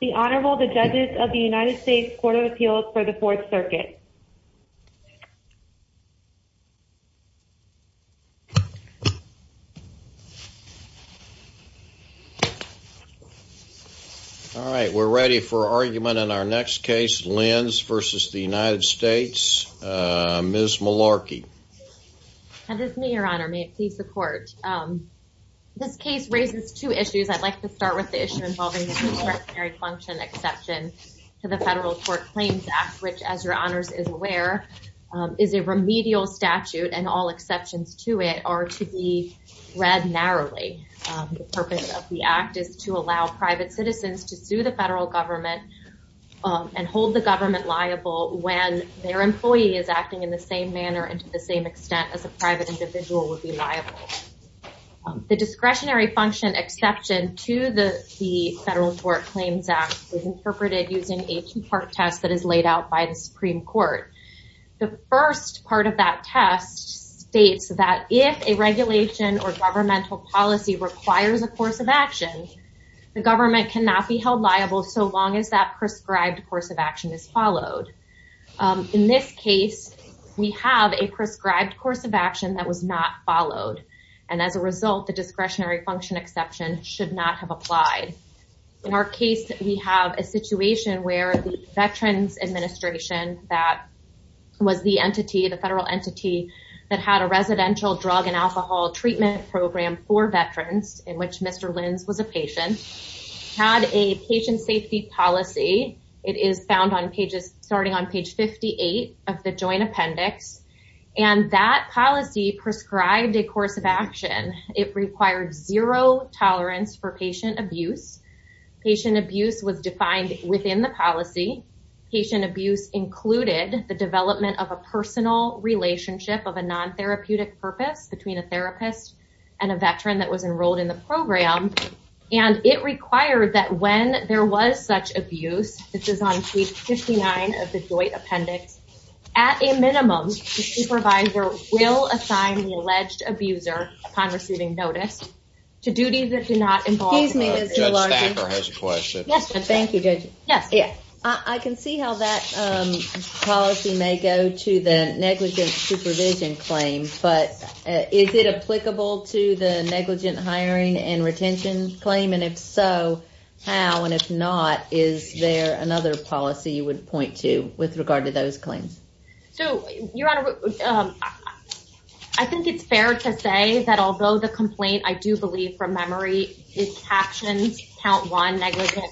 The Honorable the Judges of the United States Court of Appeals for the Fourth Circuit. All right we're ready for argument in our next case Lins versus the United States, Ms. Malarkey. This case raises two discretionary function exception to the Federal Court Claims Act which as your honors is aware is a remedial statute and all exceptions to it are to be read narrowly. The purpose of the act is to allow private citizens to sue the federal government and hold the government liable when their employee is acting in the same manner and to the same extent as a private individual would be liable. The discretionary function exception to the the federal Court Claims Act is interpreted using a two-part test that is laid out by the Supreme Court. The first part of that test states that if a regulation or governmental policy requires a course of action the government cannot be held liable so long as that prescribed course of action is followed. In this case we have a prescribed course of action that was not followed and as a result the case we have a situation where the Veterans Administration that was the entity the federal entity that had a residential drug and alcohol treatment program for veterans in which Mr. Lins was a patient had a patient safety policy it is found on pages starting on page 58 of the joint appendix and that policy prescribed a course of action it required zero tolerance for patient abuse. Patient abuse was defined within the policy. Patient abuse included the development of a personal relationship of a non-therapeutic purpose between a therapist and a veteran that was enrolled in the program and it required that when there was such abuse this is on page 59 of the joint appendix at a minimum the supervisor will assign the alleged abuser upon receiving notice to duties that do not involve. Excuse me. Judge Stacker has a question. Yes. Thank you judge. Yes. Yeah I can see how that policy may go to the negligent supervision claim but is it applicable to the negligent hiring and retention claim and if so how and if not is there another policy you would point to with regard to those claims? So your honor I think it's fair to say that although the memory is captions count one negligent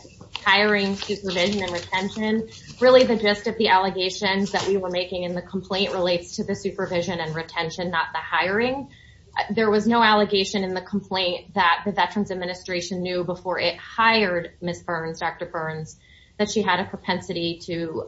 hiring supervision and retention really the gist of the allegations that we were making in the complaint relates to the supervision and retention not the hiring. There was no allegation in the complaint that the Veterans Administration knew before it hired Ms. Burns Dr. Burns that she had a propensity to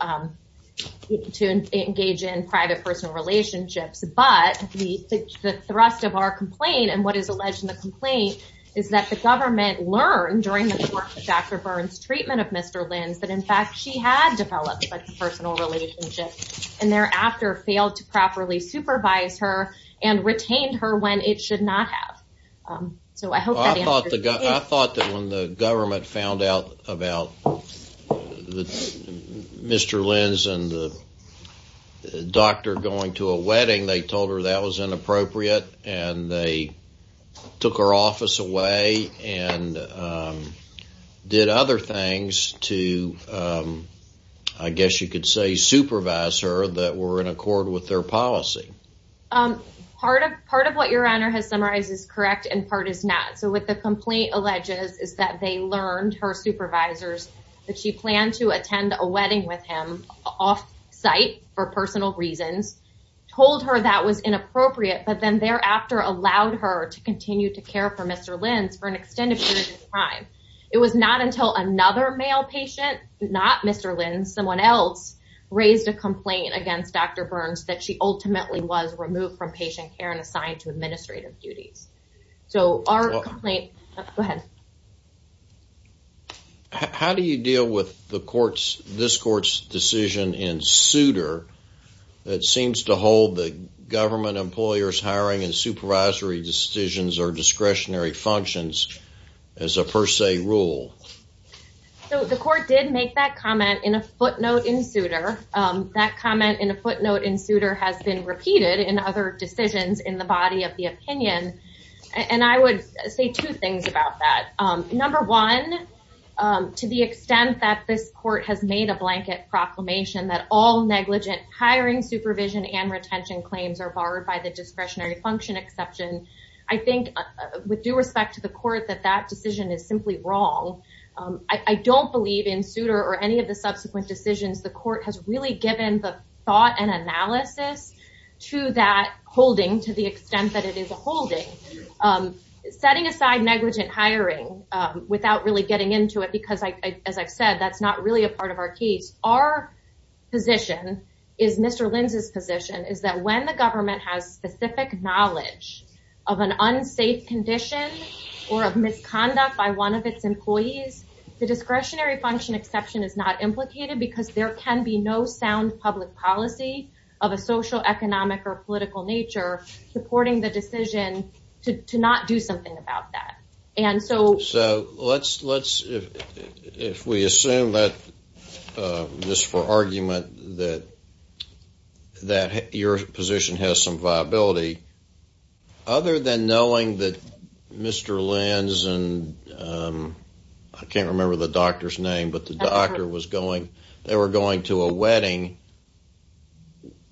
to engage in private personal relationships but the thrust of our complaint and what is alleged in the complaint is that the government learned during the course of Dr. Burns treatment of Mr. Lins that in fact she had developed a personal relationship and thereafter failed to properly supervise her and retained her when it should not have. So I hope that answers your question. I thought that when the government found out about Mr. Lins and the doctor going to a wedding they told her that was inappropriate and they took her office away and did other things to I guess you could say supervise her that were in accord with their policy. Part of what your honor has summarized is correct and part is not so with the complaint alleges is that they learned her supervisors that she planned to attend a wedding with him off-site for personal reasons told her that was inappropriate but then thereafter allowed her to continue to care for Mr. Lins for an extended period of time. It was not until another male patient not Mr. Lins someone else raised a complaint against Dr. Burns that she ultimately was removed from patient care and assigned to administrative duties. So our complaint... Go ahead. How do you deal with the court's this seems to hold the government employers hiring and supervisory decisions or discretionary functions as a per se rule? So the court did make that comment in a footnote in Souter. That comment in a footnote in Souter has been repeated in other decisions in the body of the opinion and I would say two things about that. Number one, to the extent that this court has made a blanket proclamation that all negligent hiring supervision and retention claims are barred by the discretionary function exception, I think with due respect to the court that that decision is simply wrong. I don't believe in Souter or any of the subsequent decisions the court has really given the thought and analysis to that holding to the extent that it is a holding. Setting aside negligent hiring without really being a part of our case, our position is Mr. Lins' position is that when the government has specific knowledge of an unsafe condition or of misconduct by one of its employees, the discretionary function exception is not implicated because there can be no sound public policy of a social, economic, or political nature supporting the decision to not do something about that. And so... If we assume that, just for argument, that your position has some viability, other than knowing that Mr. Lins and I can't remember the doctor's name but the doctor was going, they were going to a wedding,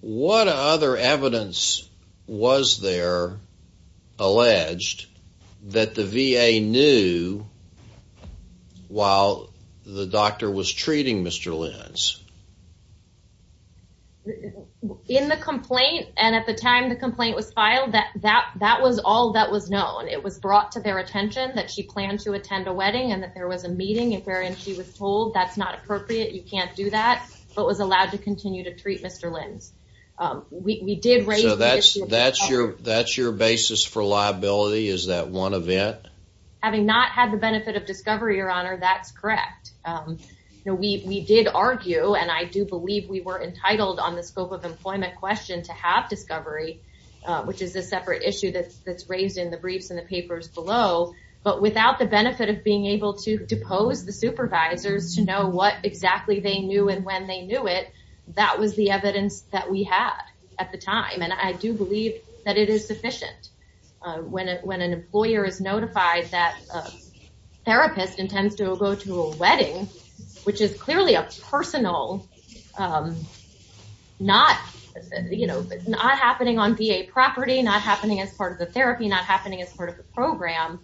what other evidence was there alleged that the VA knew while the doctor was treating Mr. Lins? In the complaint and at the time the complaint was filed, that was all that was known. It was brought to their attention that she planned to attend a wedding and that there was a meeting wherein she was told that's not appropriate, you can't do that, but was allowed to continue to treat Mr. Lins. We did raise the issue of... That's your basis for liability, is that one event? Having not had the benefit of discovery, Your Honor, that's correct. We did argue, and I do believe we were entitled on the scope of employment question to have discovery, which is a separate issue that's raised in the briefs and the papers below, but without the benefit of being able to depose the supervisors to know what exactly they knew and when they knew it, that was the basis. I do believe that it is sufficient. When an employer is notified that a therapist intends to go to a wedding, which is clearly a personal, not happening on VA property, not happening as part of the therapy, not happening as part of the program.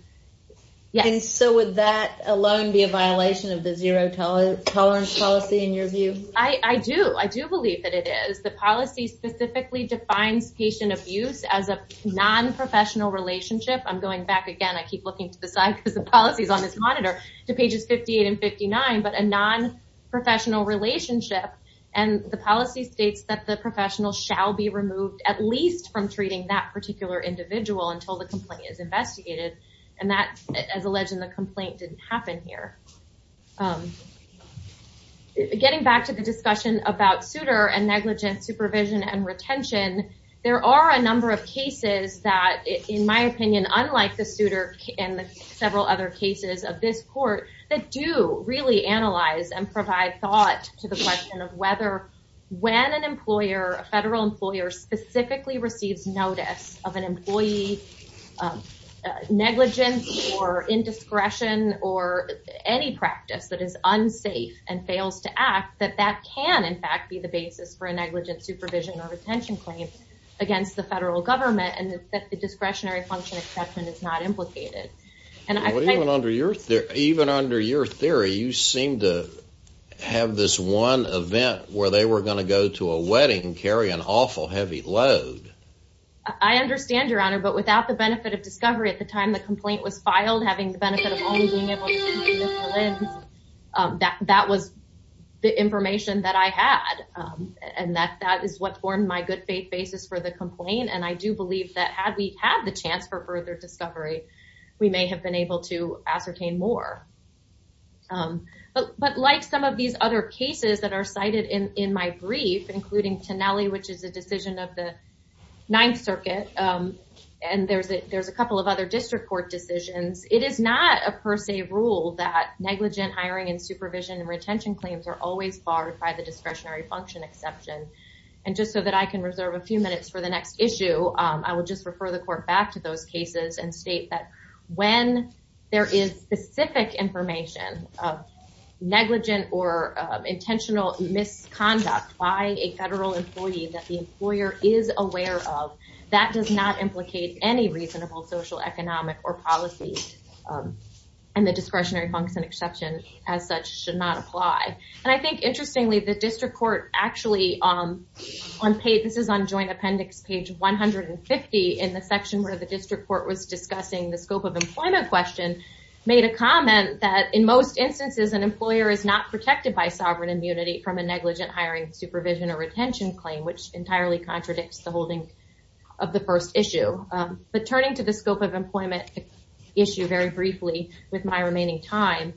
Would that alone be a violation of the zero tolerance policy in your view? I do. I do believe that it is. The policy specifically defines patient abuse as a non-professional relationship. I'm going back again, I keep looking to the side because the policy is on this monitor, to pages 58 and 59, but a non-professional relationship, and the policy states that the professional shall be removed at least from treating that particular individual until the complaint is investigated, and that, as alleged in the complaint, didn't happen here. Getting back to the discussion about suitor and negligent supervision and retention, there are a number of cases that, in my opinion, unlike the suitor and several other cases of this court, that do really analyze and provide thought to the question of whether, when an employer, a federal employer specifically receives notice of an employee negligence or indiscretion or any practice that is unsafe and fails to act, that that can, in fact, be the basis for a negligent supervision or retention claim against the federal government, and that the discretionary function assessment is not implicated. Even under your theory, you seem to have this one event where they were going to go to a wedding and carry an awful heavy load. I understand, Your Honor, but without the benefit of discovery, at the time the complaint was filed, having the benefit of only being able to see through the lens, that was the information that I had, and that is what formed my good faith basis for the complaint, and I do believe that had we had the chance for further discovery, we may have been able to ascertain more. But like some of these other cases that are cited in my brief, including Tennelli, which is a decision of the Ninth Circuit, and there's a couple of other district court decisions, it is not a per se rule that negligent hiring and supervision and retention claims are always barred by the discretionary function exception, and just so that I can reserve a few minutes for the next issue, I will just refer the Court back to those cases and state that when there is specific information of negligent or intentional misconduct by a federal employee that the employer is aware of, that does not implicate any reasonable social, economic, or policy, and the discretionary function exception as such should not apply. And I think interestingly, the district court actually, this is on joint appendix page 150 in the section where the district court was discussing the scope of employment question, made a comment that in most instances an employer is not protected by sovereign immunity from a negligent hiring, supervision, or retention claim, which entirely contradicts the holding of the first issue. But turning to the scope of employment issue very briefly with my remaining time,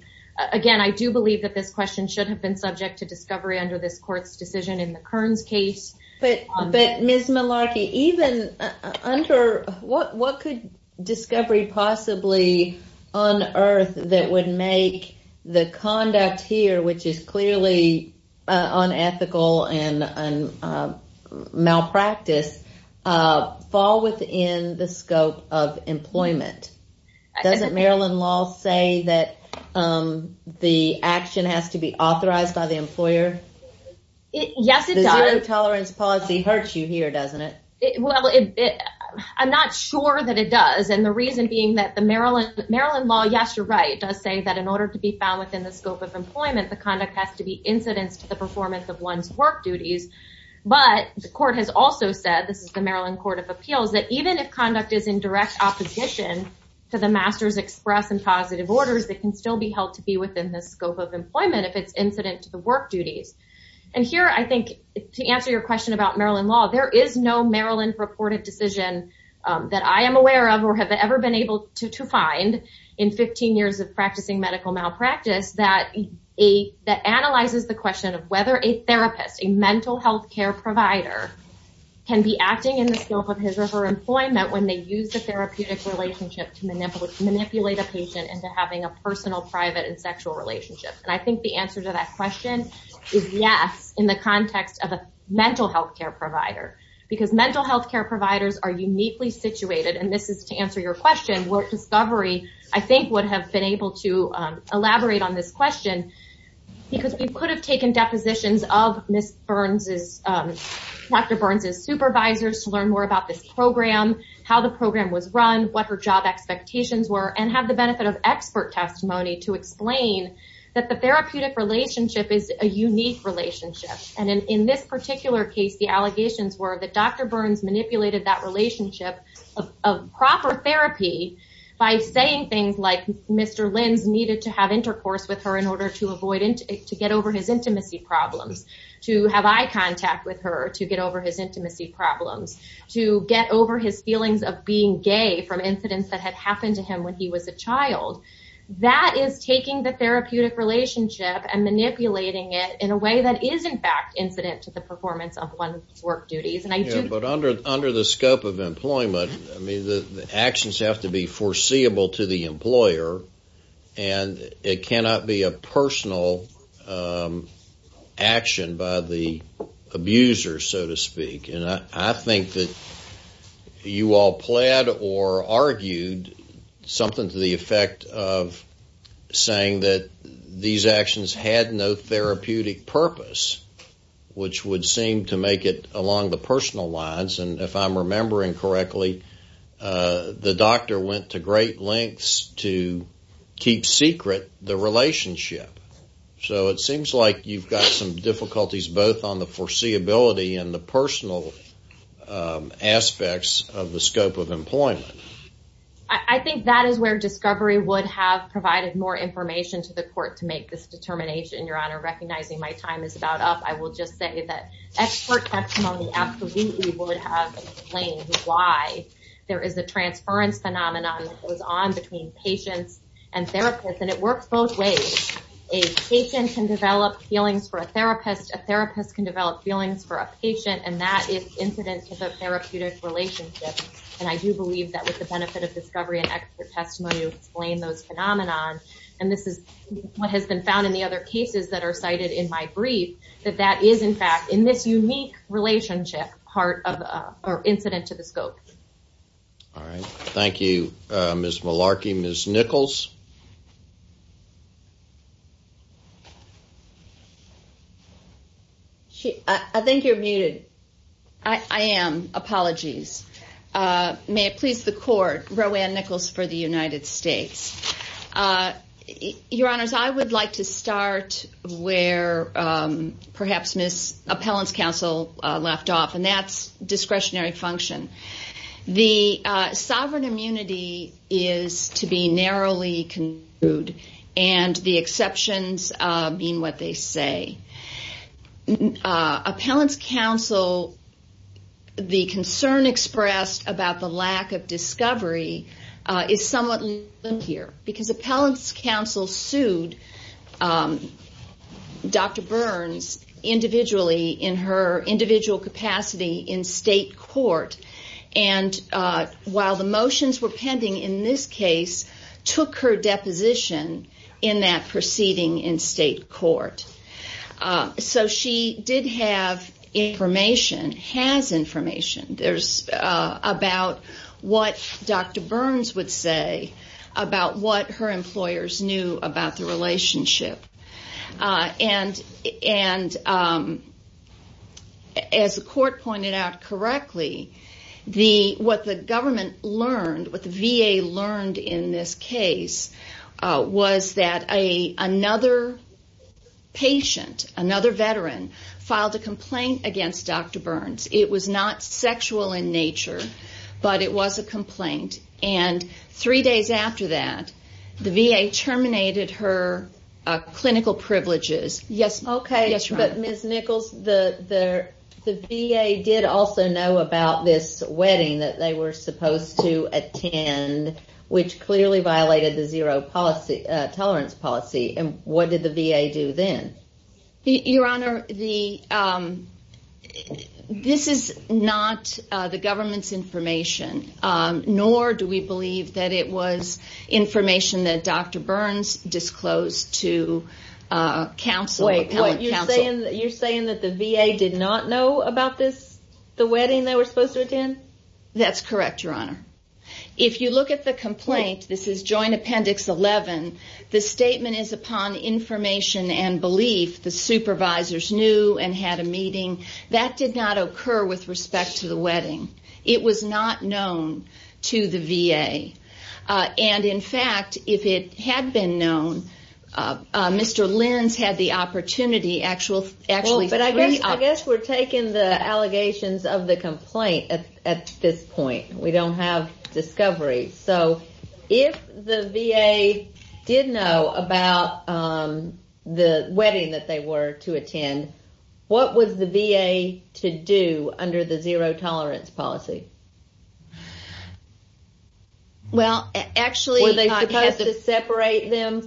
again, I do believe that this question should have been subject to discovery under this court's decision in the Kearns case. But Ms. Malarkey, even under, what could discovery possibly unearth that would make the conduct here, which is clearly unethical and malpractice, fall within the scope of employment? Doesn't Maryland law say that the action has to be authorized by the employer? Yes, it does. The zero tolerance policy hurts you here, doesn't it? Well, I'm not sure that it does, and the reason being that the Maryland law, yes, you're right, does say that in order to be found within the scope of employment, the conduct has to be incidence to the performance of one's work duties. But the court has also said, this is the Maryland Court of Appeals, that even if conduct is in direct opposition to the master's express and positive orders, it can still be held to be within the scope of employment if it's incident to the work duties. And here, I think, to answer your question about Maryland law, there is no Maryland reported decision that I am aware of or have ever been able to find in 15 years of practicing medical malpractice that analyzes the question of whether a therapist, a mental health care provider, can be acting in the scope of his or her employment when they use the therapeutic relationship to manipulate a patient into having a personal, private, and sexual relationship. And I think the answer to that question is yes, in the context of a mental health care provider, because mental health care providers are uniquely situated, and this is to answer your question, work discovery, I think, would have been able to elaborate on this question, because we could have taken depositions of Dr. Burns' supervisors to learn more about this program, how the program was run, what her job expectations were, and have the benefit of expert testimony to explain that the therapeutic relationship is a unique relationship. And in this particular case, the allegations were that Dr. Burns manipulated that relationship of proper therapy by saying things like Mr. Lenz needed to have intercourse with her in order to get over his intimacy problems, to have eye contact with her to get over his intimacy problems, to get over his feelings of being gay from incidents that had happened to him when he was a child. That is taking the therapeutic relationship and manipulating it in a way that is, in fact, incident to the performance of one's work duties. But under the scope of employment, I mean, the actions have to be foreseeable to the employer, and it cannot be a personal action by the abuser, so to speak. And I think that you all plaid or argued something to the effect of saying that these actions had no therapeutic purpose, which would seem to make it along the personal lines. And if I'm remembering correctly, the doctor went to great lengths to keep secret the relationship. So it seems like you've got some difficulties both on the foreseeability and the personal aspects of the scope of employment. I think that is where Discovery would have provided more information to the court to make this determination, Your Honor. Recognizing my time is about up, I would have explained why there is a transference phenomenon that goes on between patients and therapists, and it works both ways. A patient can develop feelings for a therapist, a therapist can develop feelings for a patient, and that is incident to the therapeutic relationship. And I do believe that with the benefit of Discovery and expert testimony to explain those phenomenon, and this is what has been found in the other cases that are cited in my brief, that that is, in fact, in this unique relationship, incident to the scope. All right. Thank you, Ms. Malarkey. Ms. Nichols? I think you're muted. I am. Apologies. May it please the court, Roanne Nichols for the United States. Your Honors, I would like to start where perhaps Ms. Appellant's counsel left off, and that is discretionary function. The sovereign immunity is to be narrowly concluded, and the exceptions mean what they say. Appellant's counsel, the concern expressed about the lack of discovery is somewhat limited here, because Appellant's counsel sued Dr. Burns individually in her individual capacity in state court, and while the motions were pending in this case, took her deposition in that proceeding in state court. So she did have information, has information, about what Dr. Burns would say about what her employers knew about the relationship, and as the court pointed out correctly, what the government learned, what the VA learned in this case, was that another patient, another veteran, filed a complaint against Dr. Burns. It was not sexual in nature, but it was a complaint, and three days after that, the VA terminated her clinical privileges. Okay, but Ms. Nichols, the VA did also know about this wedding that they were supposed to attend, which clearly violated the zero tolerance policy, and what did the VA do then? Your Honor, this is not the government's information, nor do we believe that it was information that Dr. Burns disclosed to counsel, Appellant counsel. Wait, you're saying that the VA did not know about this, the wedding they were supposed to attend? That's correct, Your Honor. If you look at the complaint, this is Joint Appendix 11, the statement is upon information and belief. The supervisors knew and had a meeting. That did not occur with respect to the wedding. It was not known to the VA, and in fact, if it had been known, Mr. Lins had the opportunity, actually three... at this point. We don't have discovery. So if the VA did know about the wedding that they were to attend, what was the VA to do under the zero tolerance policy? Well, actually... Were they supposed to separate them,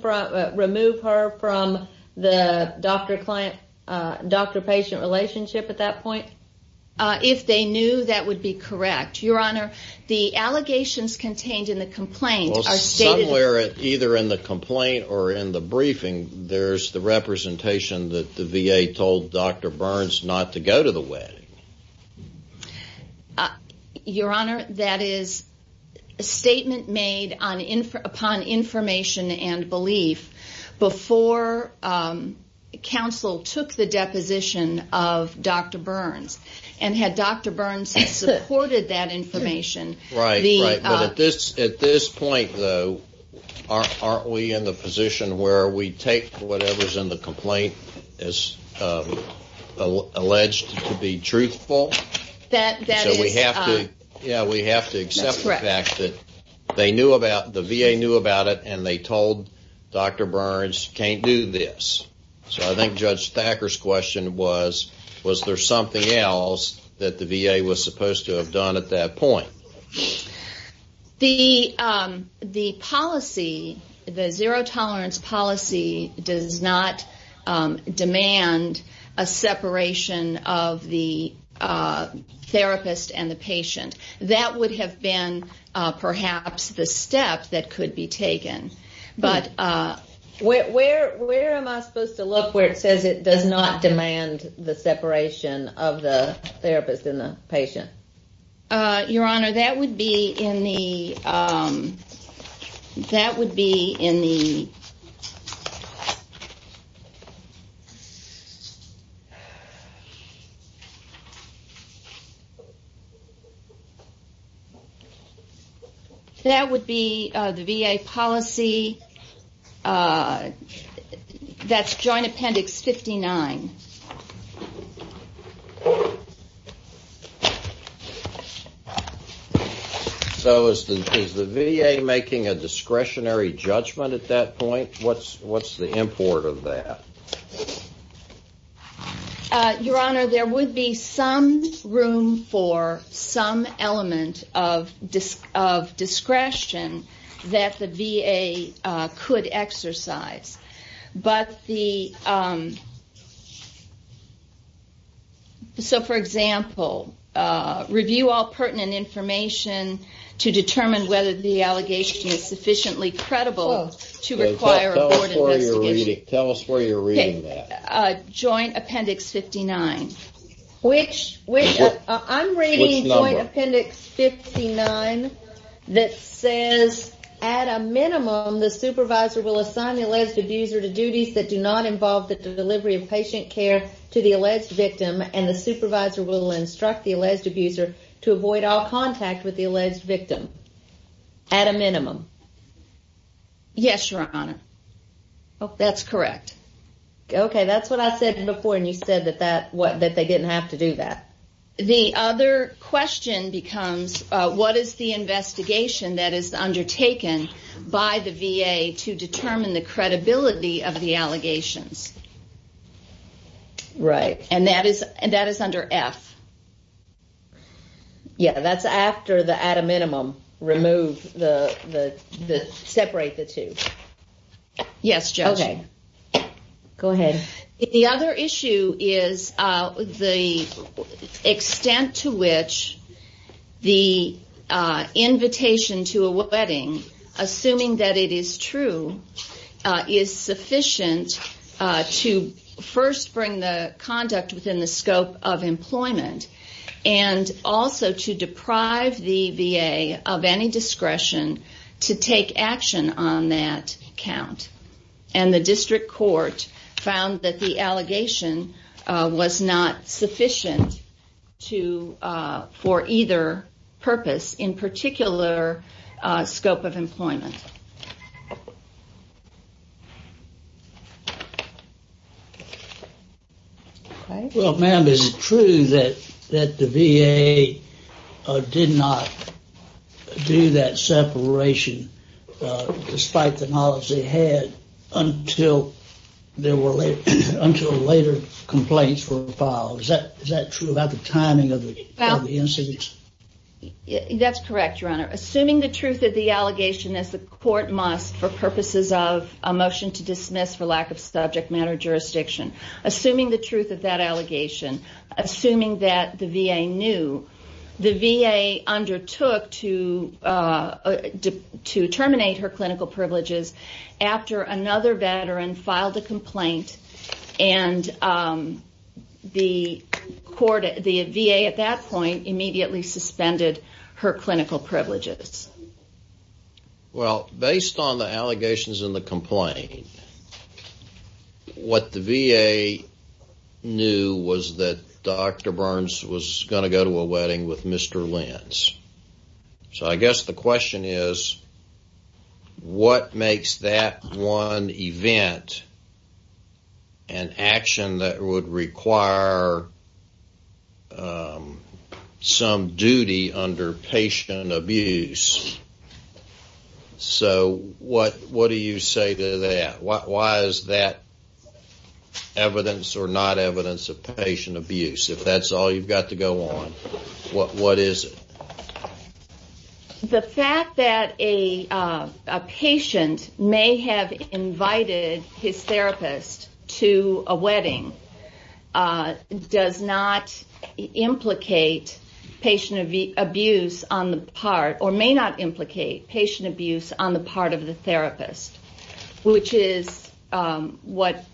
remove her from the doctor-patient relationship at that point? If they knew, that would be correct. Your Honor, the allegations contained in the complaint are stated... Somewhere, either in the complaint or in the briefing, there's the representation that the VA told Dr. Burns not to go to the wedding. Your Honor, that is a statement made upon information and belief before counsel took the deposition of Dr. Burns, and had Dr. Burns supported that information... Right, right. But at this point, though, aren't we in the position where we take whatever's in the complaint as alleged to be truthful? That is... So we have to... That's correct. Yeah, we have to accept the fact that they knew about... So I think Judge Thacker's question was, was there something else that the VA was supposed to have done at that point? The policy, the zero tolerance policy, does not demand a separation of the therapist and the patient. That would have been, perhaps, the step that could be taken. Where am I supposed to look where it says it does not demand the separation of the therapist and the patient? Your Honor, that would be in the... That's Joint Appendix 59. So is the VA making a discretionary judgment at that point? What's the import of that? Your Honor, there would be some room for some element of discretion that the VA could exercise. But the... So, for example, review all pertinent information to determine whether the allegation is sufficiently credible to require a board investigation. Tell us where you're reading that. Joint Appendix 59. Which number? Joint Appendix 59 that says, at a minimum, the supervisor will assign the alleged abuser to duties that do not involve the delivery of patient care to the alleged victim, and the supervisor will instruct the alleged abuser to avoid all contact with the alleged victim. At a minimum. Yes, Your Honor. That's correct. Okay, that's what I said before, and you said that they didn't have to do that. The other question becomes, what is the investigation that is undertaken by the VA to determine the credibility of the allegations? Right. And that is under F. Yeah, that's after the, at a minimum, remove the... Separate the two. Yes, Judge. Okay. Go ahead. The other issue is the extent to which the invitation to a wedding, assuming that it is true, is sufficient to first bring the conduct within the scope of employment, and also to deprive the VA of any discretion to take action on that account. And the district court found that the allegation was not sufficient to, for either purpose, in particular scope of employment. Well, ma'am, is it true that the VA did not do that separation, despite the knowledge they had, until later complaints were filed? Is that true about the timing of the incidents? That's correct, Your Honor. Assuming the truth of the allegation, as the court must for purposes of a motion to dismiss for lack of subject matter jurisdiction, assuming the truth of that allegation, assuming that the VA knew, the VA undertook to terminate her clinical privileges after another veteran filed a complaint, and the VA at that point immediately suspended her clinical privileges. Well, based on the allegations in the complaint, what the VA knew was that Dr. Burns was going to go to a wedding with Mr. Lentz. So I guess the question is, what makes that one event an action that would require some duty under patient abuse? So what do you say to that? Why is that evidence or not evidence of patient abuse, if that's all you've got to go on? What is it? The fact that a patient may have invited his therapist to a wedding does not implicate patient abuse on the part, or may not implicate patient abuse on the part of the therapist, which is what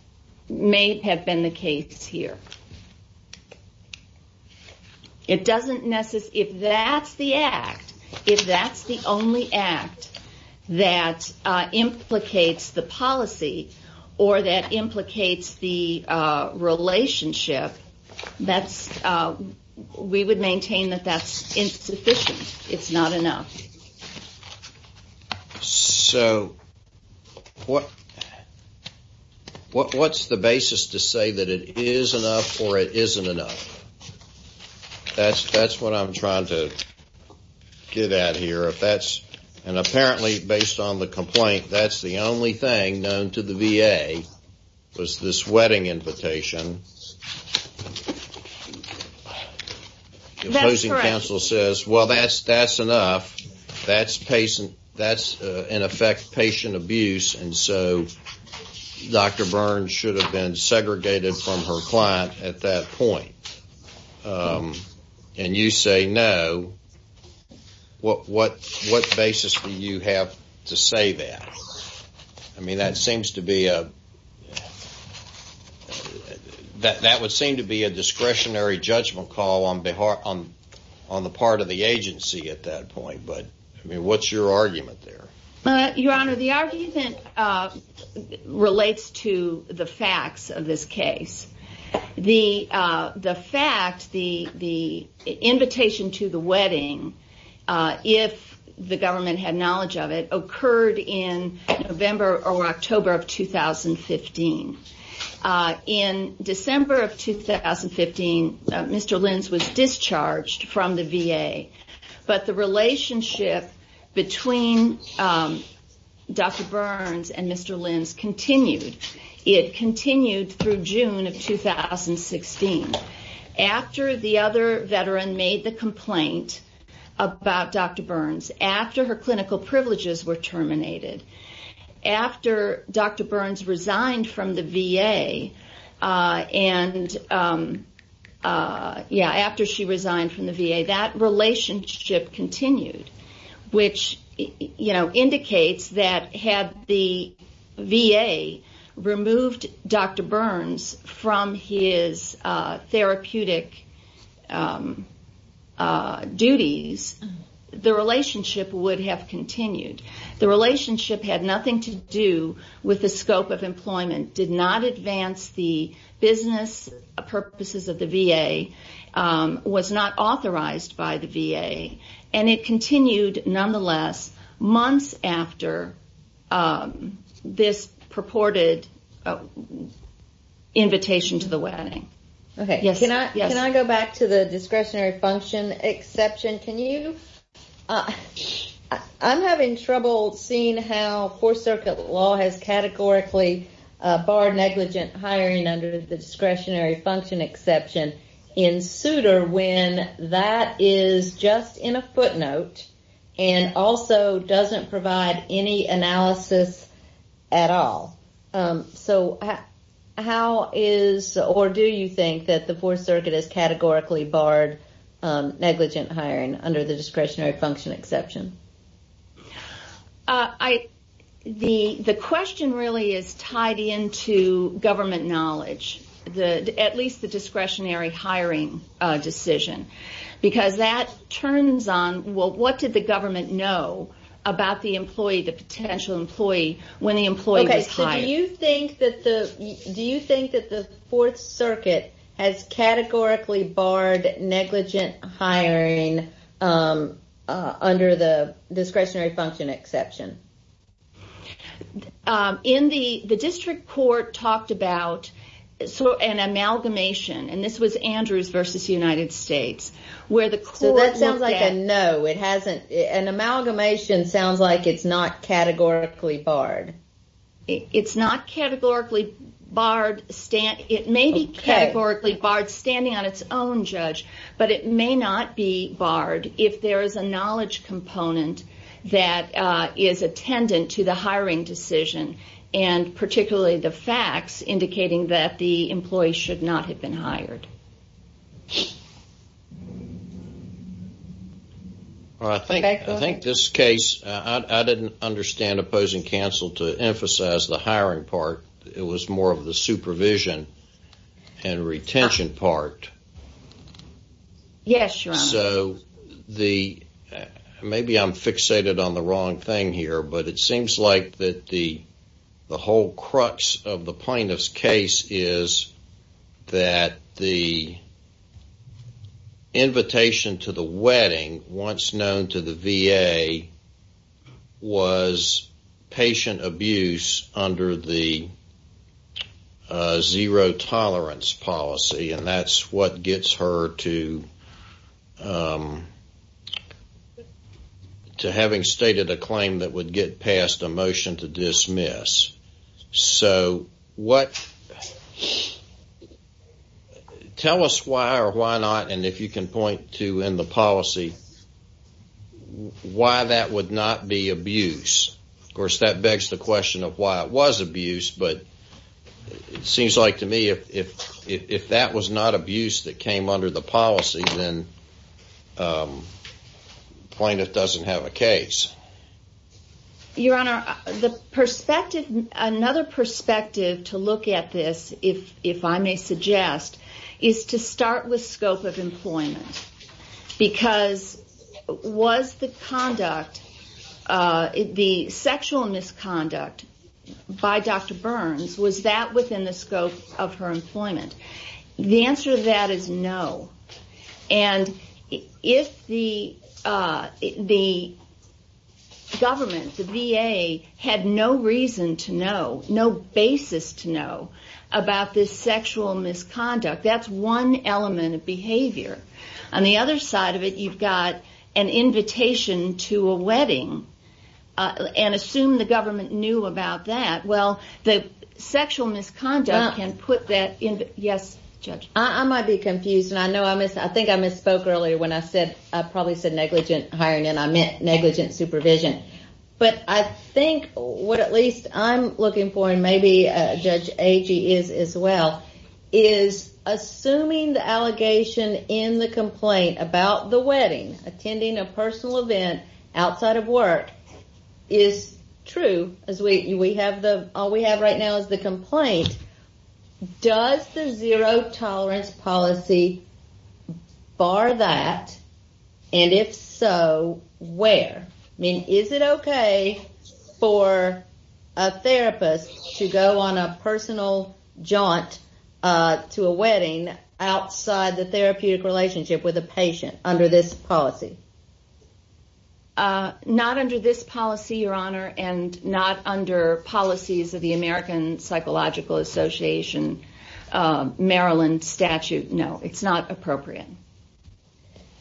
may have been the case here. If that's the act, if that's the only act that implicates the policy or that implicates the relationship, we would maintain that that's insufficient. It's not enough. So what's the basis to say that it is enough or it isn't enough? That's what I'm trying to get at here. And apparently, based on the complaint, that's the only thing known to the VA, was this wedding invitation. That's correct. That's, in effect, patient abuse, and so Dr. Burns should have been segregated from her client at that point. And you say no. What basis do you have to say that? I mean, that would seem to be a discretionary judgment call on the part of the agency at that point, but I mean, what's your argument there? Your Honor, the argument relates to the facts of this case. The fact, the invitation to the wedding, if the government had knowledge of it, occurred in November or October of 2015. In December of 2015, Mr. Lins was discharged from the VA, but the relationship between Dr. Burns and Mr. Lins continued. It continued through June of 2016. After the other veteran made the complaint about Dr. Burns, after her clinical and after she resigned from the VA, that relationship continued, which indicates that had the VA removed Dr. Burns from his therapeutic duties, the relationship would have continued. The relationship had nothing to do with the scope of employment, did not advance the business purposes of the VA, was not authorized by the VA, and it continued nonetheless months after this purported invitation to the wedding. Okay. Can I go back to the discretionary function exception? I'm having trouble seeing how Fourth Circuit law has categorically barred negligent hiring under the discretionary function exception in suitor when that is just in a footnote and also doesn't provide any analysis at all. So how is or do you think that the Fourth Circuit has categorically barred negligent hiring under the discretionary function exception? The question really is tied into government knowledge, at least the discretionary hiring decision, because that turns on, well, what did the government know about the employee, the potential employee, when the employee was hired? Do you think that the Fourth Circuit has categorically barred negligent hiring under the discretionary function exception? The district court talked about an amalgamation, and this was Andrews versus United States, where the court looked at- So that sounds like a no. An amalgamation sounds like it's not categorically barred. It's not categorically barred. It may be categorically barred standing on its own, Judge, but it may not be barred if there is a knowledge component that is attendant to the hiring decision and particularly the facts indicating that the employee should not have been hired. I think this case, I didn't understand opposing counsel to emphasize the hiring part. It was more of the supervision and retention part. Yes, Your Honor. Maybe I'm fixated on the wrong thing here, but it seems like the whole crux of the plaintiff's case is that the invitation to the wedding, once known to the VA, was patient abuse under the zero tolerance policy, and that's what gets her to having stated a claim that would get passed a motion to dismiss. So tell us why or why not, and if you can point to in the policy, why that would not be abuse. Of course, that begs the question of why it was abuse, but it seems like to me if that was not abuse that came under the policy, then the plaintiff doesn't have a case. Your Honor, another perspective to look at this, if I may suggest, is to start with scope of employment, because was the sexual misconduct by Dr. Burns, was that within the scope of her employment? The answer to that is no, and if the government, the VA, had no reason to know, about this sexual misconduct, that's one element of behavior. On the other side of it, you've got an invitation to a wedding, and assume the government knew about that. Well, the sexual misconduct can put that in, yes, Judge? I might be confused, and I think I misspoke earlier when I said, I probably said negligent hiring, and I meant negligent supervision, but I think what at least I'm looking for, and maybe Judge Agee is as well, is assuming the allegation in the complaint about the wedding, attending a personal event outside of work, is true, as all we have right now is the complaint, does the zero tolerance policy bar that, and if so, where? I mean, is it okay for a therapist to go on a personal jaunt to a wedding, outside the therapeutic relationship with a patient, under this policy? Not under this policy, Your Honor, and not under policies of the American Psychological Association, Maryland statute, no. It's not appropriate.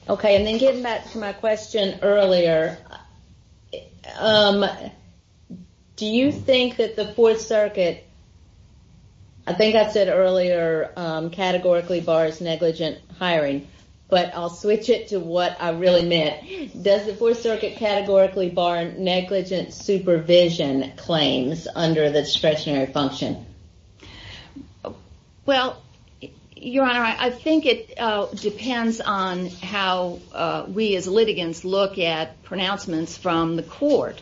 Okay, and then getting back to my question earlier, do you think that the Fourth Circuit, I think I said earlier, categorically bars negligent hiring, but I'll switch it to what I really meant. Does the Fourth Circuit categorically bar negligent supervision claims under the discretionary function? Well, Your Honor, I think it depends on how we as litigants look at pronouncements from the court,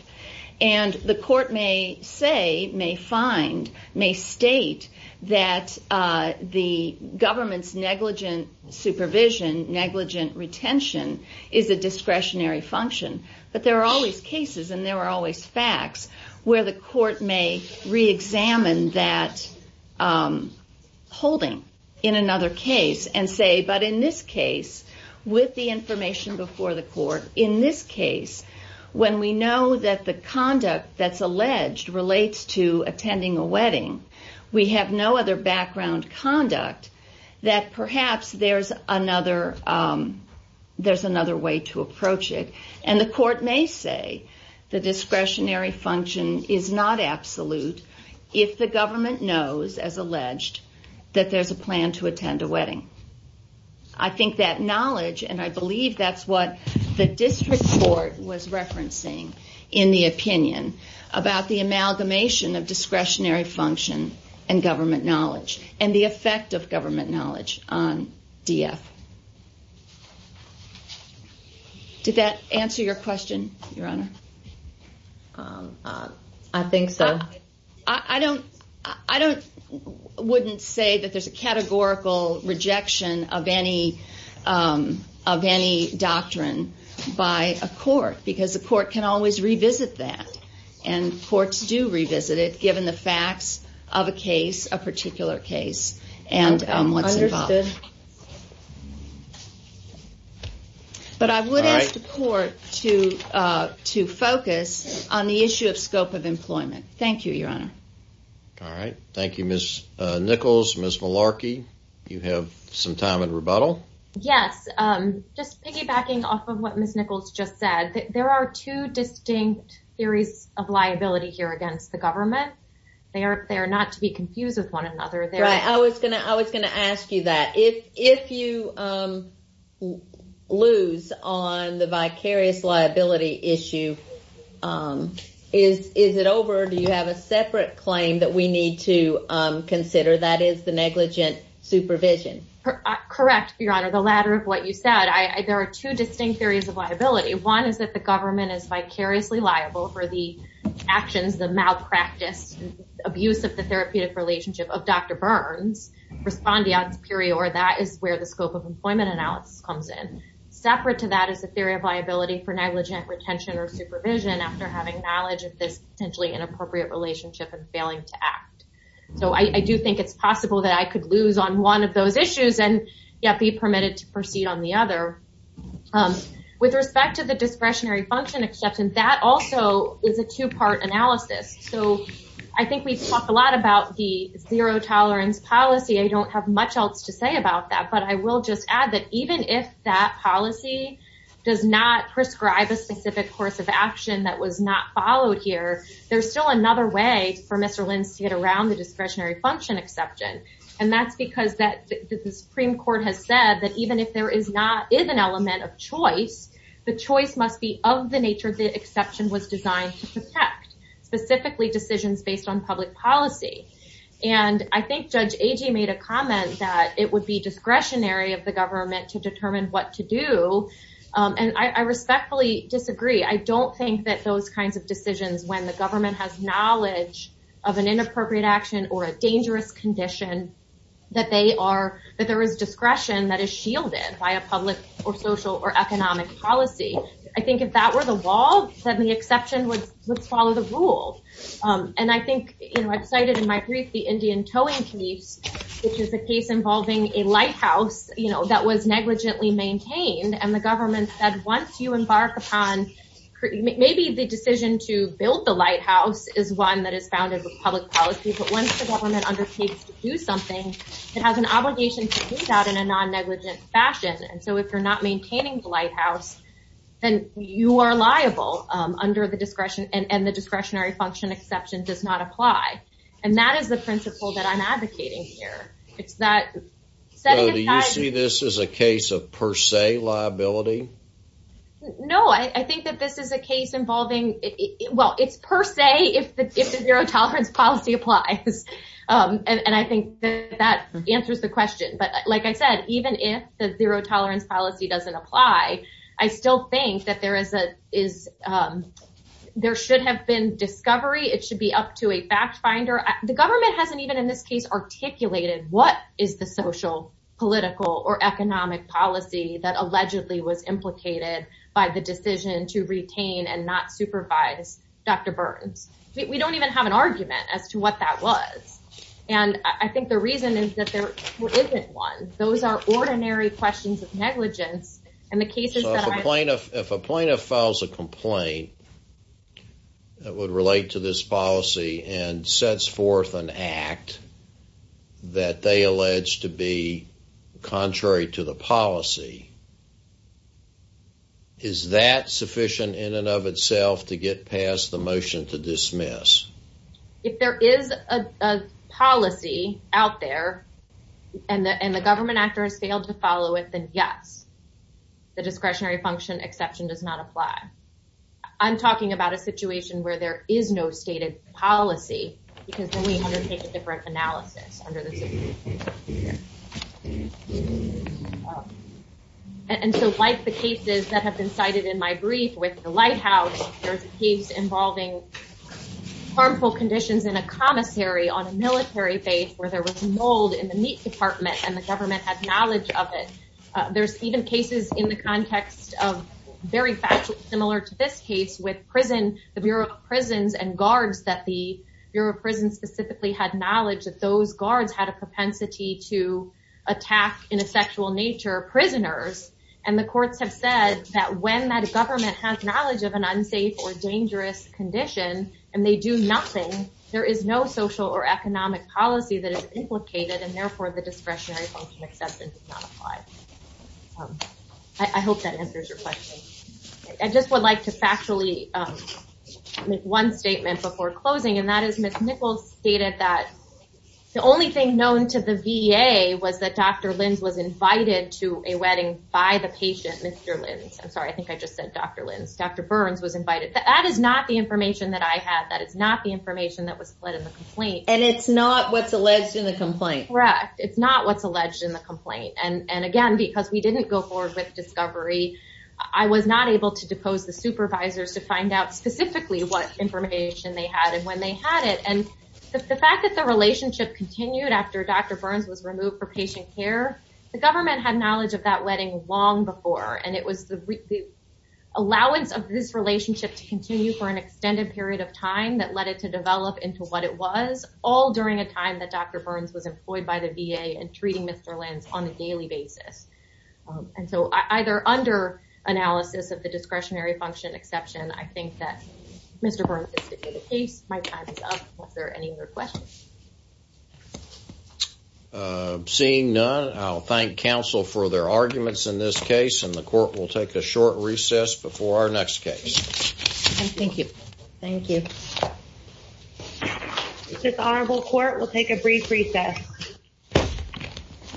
and the court may say, may find, may state that the government's negligent supervision, negligent retention is a discretionary function, but there are always cases, and there are always facts, where the court may reexamine that holding in another case, and say, but in this case, with the information before the court, in this case, when we know that the conduct that's alleged relates to attending a wedding, we have no other background conduct, that perhaps there's another way to approach it, and the court may say the discretionary function is not absolute, if the government knows, as alleged, that there's a plan to attend a wedding. I think that knowledge, and I believe that's what the district court was referencing in the opinion, about the amalgamation of discretionary function and government knowledge, and the effect of government knowledge on DF. Did that answer your question, Your Honor? I think so. I wouldn't say that there's a categorical rejection of any doctrine by a court, because the court can always revisit that, and courts do revisit it, given the facts of a case, a particular case, and what's involved. Good. But I would ask the court to focus on the issue of scope of employment. Thank you, Your Honor. All right. Thank you, Ms. Nichols, Ms. Malarkey. You have some time in rebuttal. Yes. Just piggybacking off of what Ms. Nichols just said, there are two distinct theories of liability here against the government. They are not to be confused with one another. Right. I was going to ask you that. If you lose on the vicarious liability issue, is it over, or do you have a separate claim that we need to consider, that is, the negligent supervision? Correct, Your Honor. The latter of what you said. There are two distinct theories of liability. One is that the government is vicariously liable for the actions, the malpractice, abuse of the therapeutic relationship of Dr. Burns, respondeat superior. That is where the scope of employment analysis comes in. Separate to that is the theory of liability for negligent retention or supervision after having knowledge of this potentially inappropriate relationship and failing to act. So I do think it's possible that I could lose on one of those issues and yet be permitted to proceed on the other. With respect to the discretionary function exception, that also is a two-part analysis. So I think we've talked a lot about the zero tolerance policy. I don't have much else to say about that, but I will just add that even if that policy does not prescribe a specific course of action that was not followed here, there's still another way for Mr. Linz to get around the discretionary function exception. And that's because the Supreme Court has said that even if there is not, is an element of choice, the choice must be of the nature the exception was designed to protect, specifically decisions based on public policy. And I think Judge Agee made a comment that it would be discretionary of the government to determine what to do. And I respectfully disagree. I don't think that those kinds of decisions when the government has knowledge of an inappropriate action or a dangerous condition, that they are, that there is discretion that is shielded by a public or social or economic policy. I think if that were the wall, then the exception would follow the rule. And I think, you know, I've cited in my brief the Indian towing case, which is a case involving a lighthouse, you know, that was negligently maintained and the government said, once you embark upon, maybe the decision to build the lighthouse is one that is founded with public policy. But once the government undertakes to do something, it has an obligation to do that in a non-negligent fashion. And so if you're not maintaining the lighthouse, then you are liable under the discretion and the discretionary function exception does not apply. And that is the principle that I'm advocating here. It's that. So do you see this as a case of per se liability? No, I think that this is a case involving it. Well, it's per se if the zero tolerance policy applies. And I think that answers the question, but like I said, even if the zero tolerance policy doesn't apply, I still think that there is a, is there should have been discovery. It should be up to a fact finder. The government hasn't even in this case articulated, what is the social political or economic policy that allegedly was implicated by the decision to retain and not supervise Dr. Burns. We don't even have an argument as to what that was. And I think the reason is that there isn't one. Those are ordinary questions of negligence. And the cases that I. If a plaintiff files a complaint that would relate to this policy and sets forth an act that they allege to be contrary to the policy. Is that sufficient in and of itself to get past the motion to dismiss? If there is a policy out there and the, and the government actors failed to follow it, then yes, the discretionary function exception does not apply. I'm talking about a situation where there is no stated policy because we undertake a different analysis. And so like the cases that have been cited in my brief with the lighthouse, there's a case involving harmful conditions in a commissary on a military base where there was mold in the meat department and the government had knowledge of it. There's even cases in the context of very similar to this case with prison, the Bureau of prisons and guards that the Bureau of prison specifically had knowledge of those guards had a propensity to attack in a sexual nature prisoners. And the courts have said that when that government has knowledge of an unsafe or dangerous condition and they do nothing, there is no social or economic policy that is implicated. And therefore the discretionary function exception does not apply. I hope that answers your question. I just would like to factually make one statement before closing. And that is Ms. Nichols stated that the only thing known to the VA was that Dr. Lins was invited to a wedding by the patient, Mr. Lins. I'm sorry. I think I just said Dr. Lins. Dr. Burns was invited. That is not the information that I have. That is not the information that was put in the complaint. And it's not what's alleged in the complaint. Correct. It's not what's alleged in the complaint. And again, because we didn't go forward with discovery, I was not able to depose the supervisors to find out specifically what information they had and when they had it. And the fact that the relationship continued after Dr. Burns was removed for patient care, the government had knowledge of that wedding long before. And it was the allowance of this relationship to continue for an extended period of time that led it to develop into what it was all during a time that Dr. Burns was employed by the VA and treating Mr. Lins on a daily basis. And so either under analysis of the discretionary function exception, I think that Mr. Burns is sticking to the case. My time is up. Are there any other questions? Seeing none, I'll thank counsel for their arguments in this case. And the court will take a short recess before our next case. Thank you. Thank you. This honorable court will take a brief recess.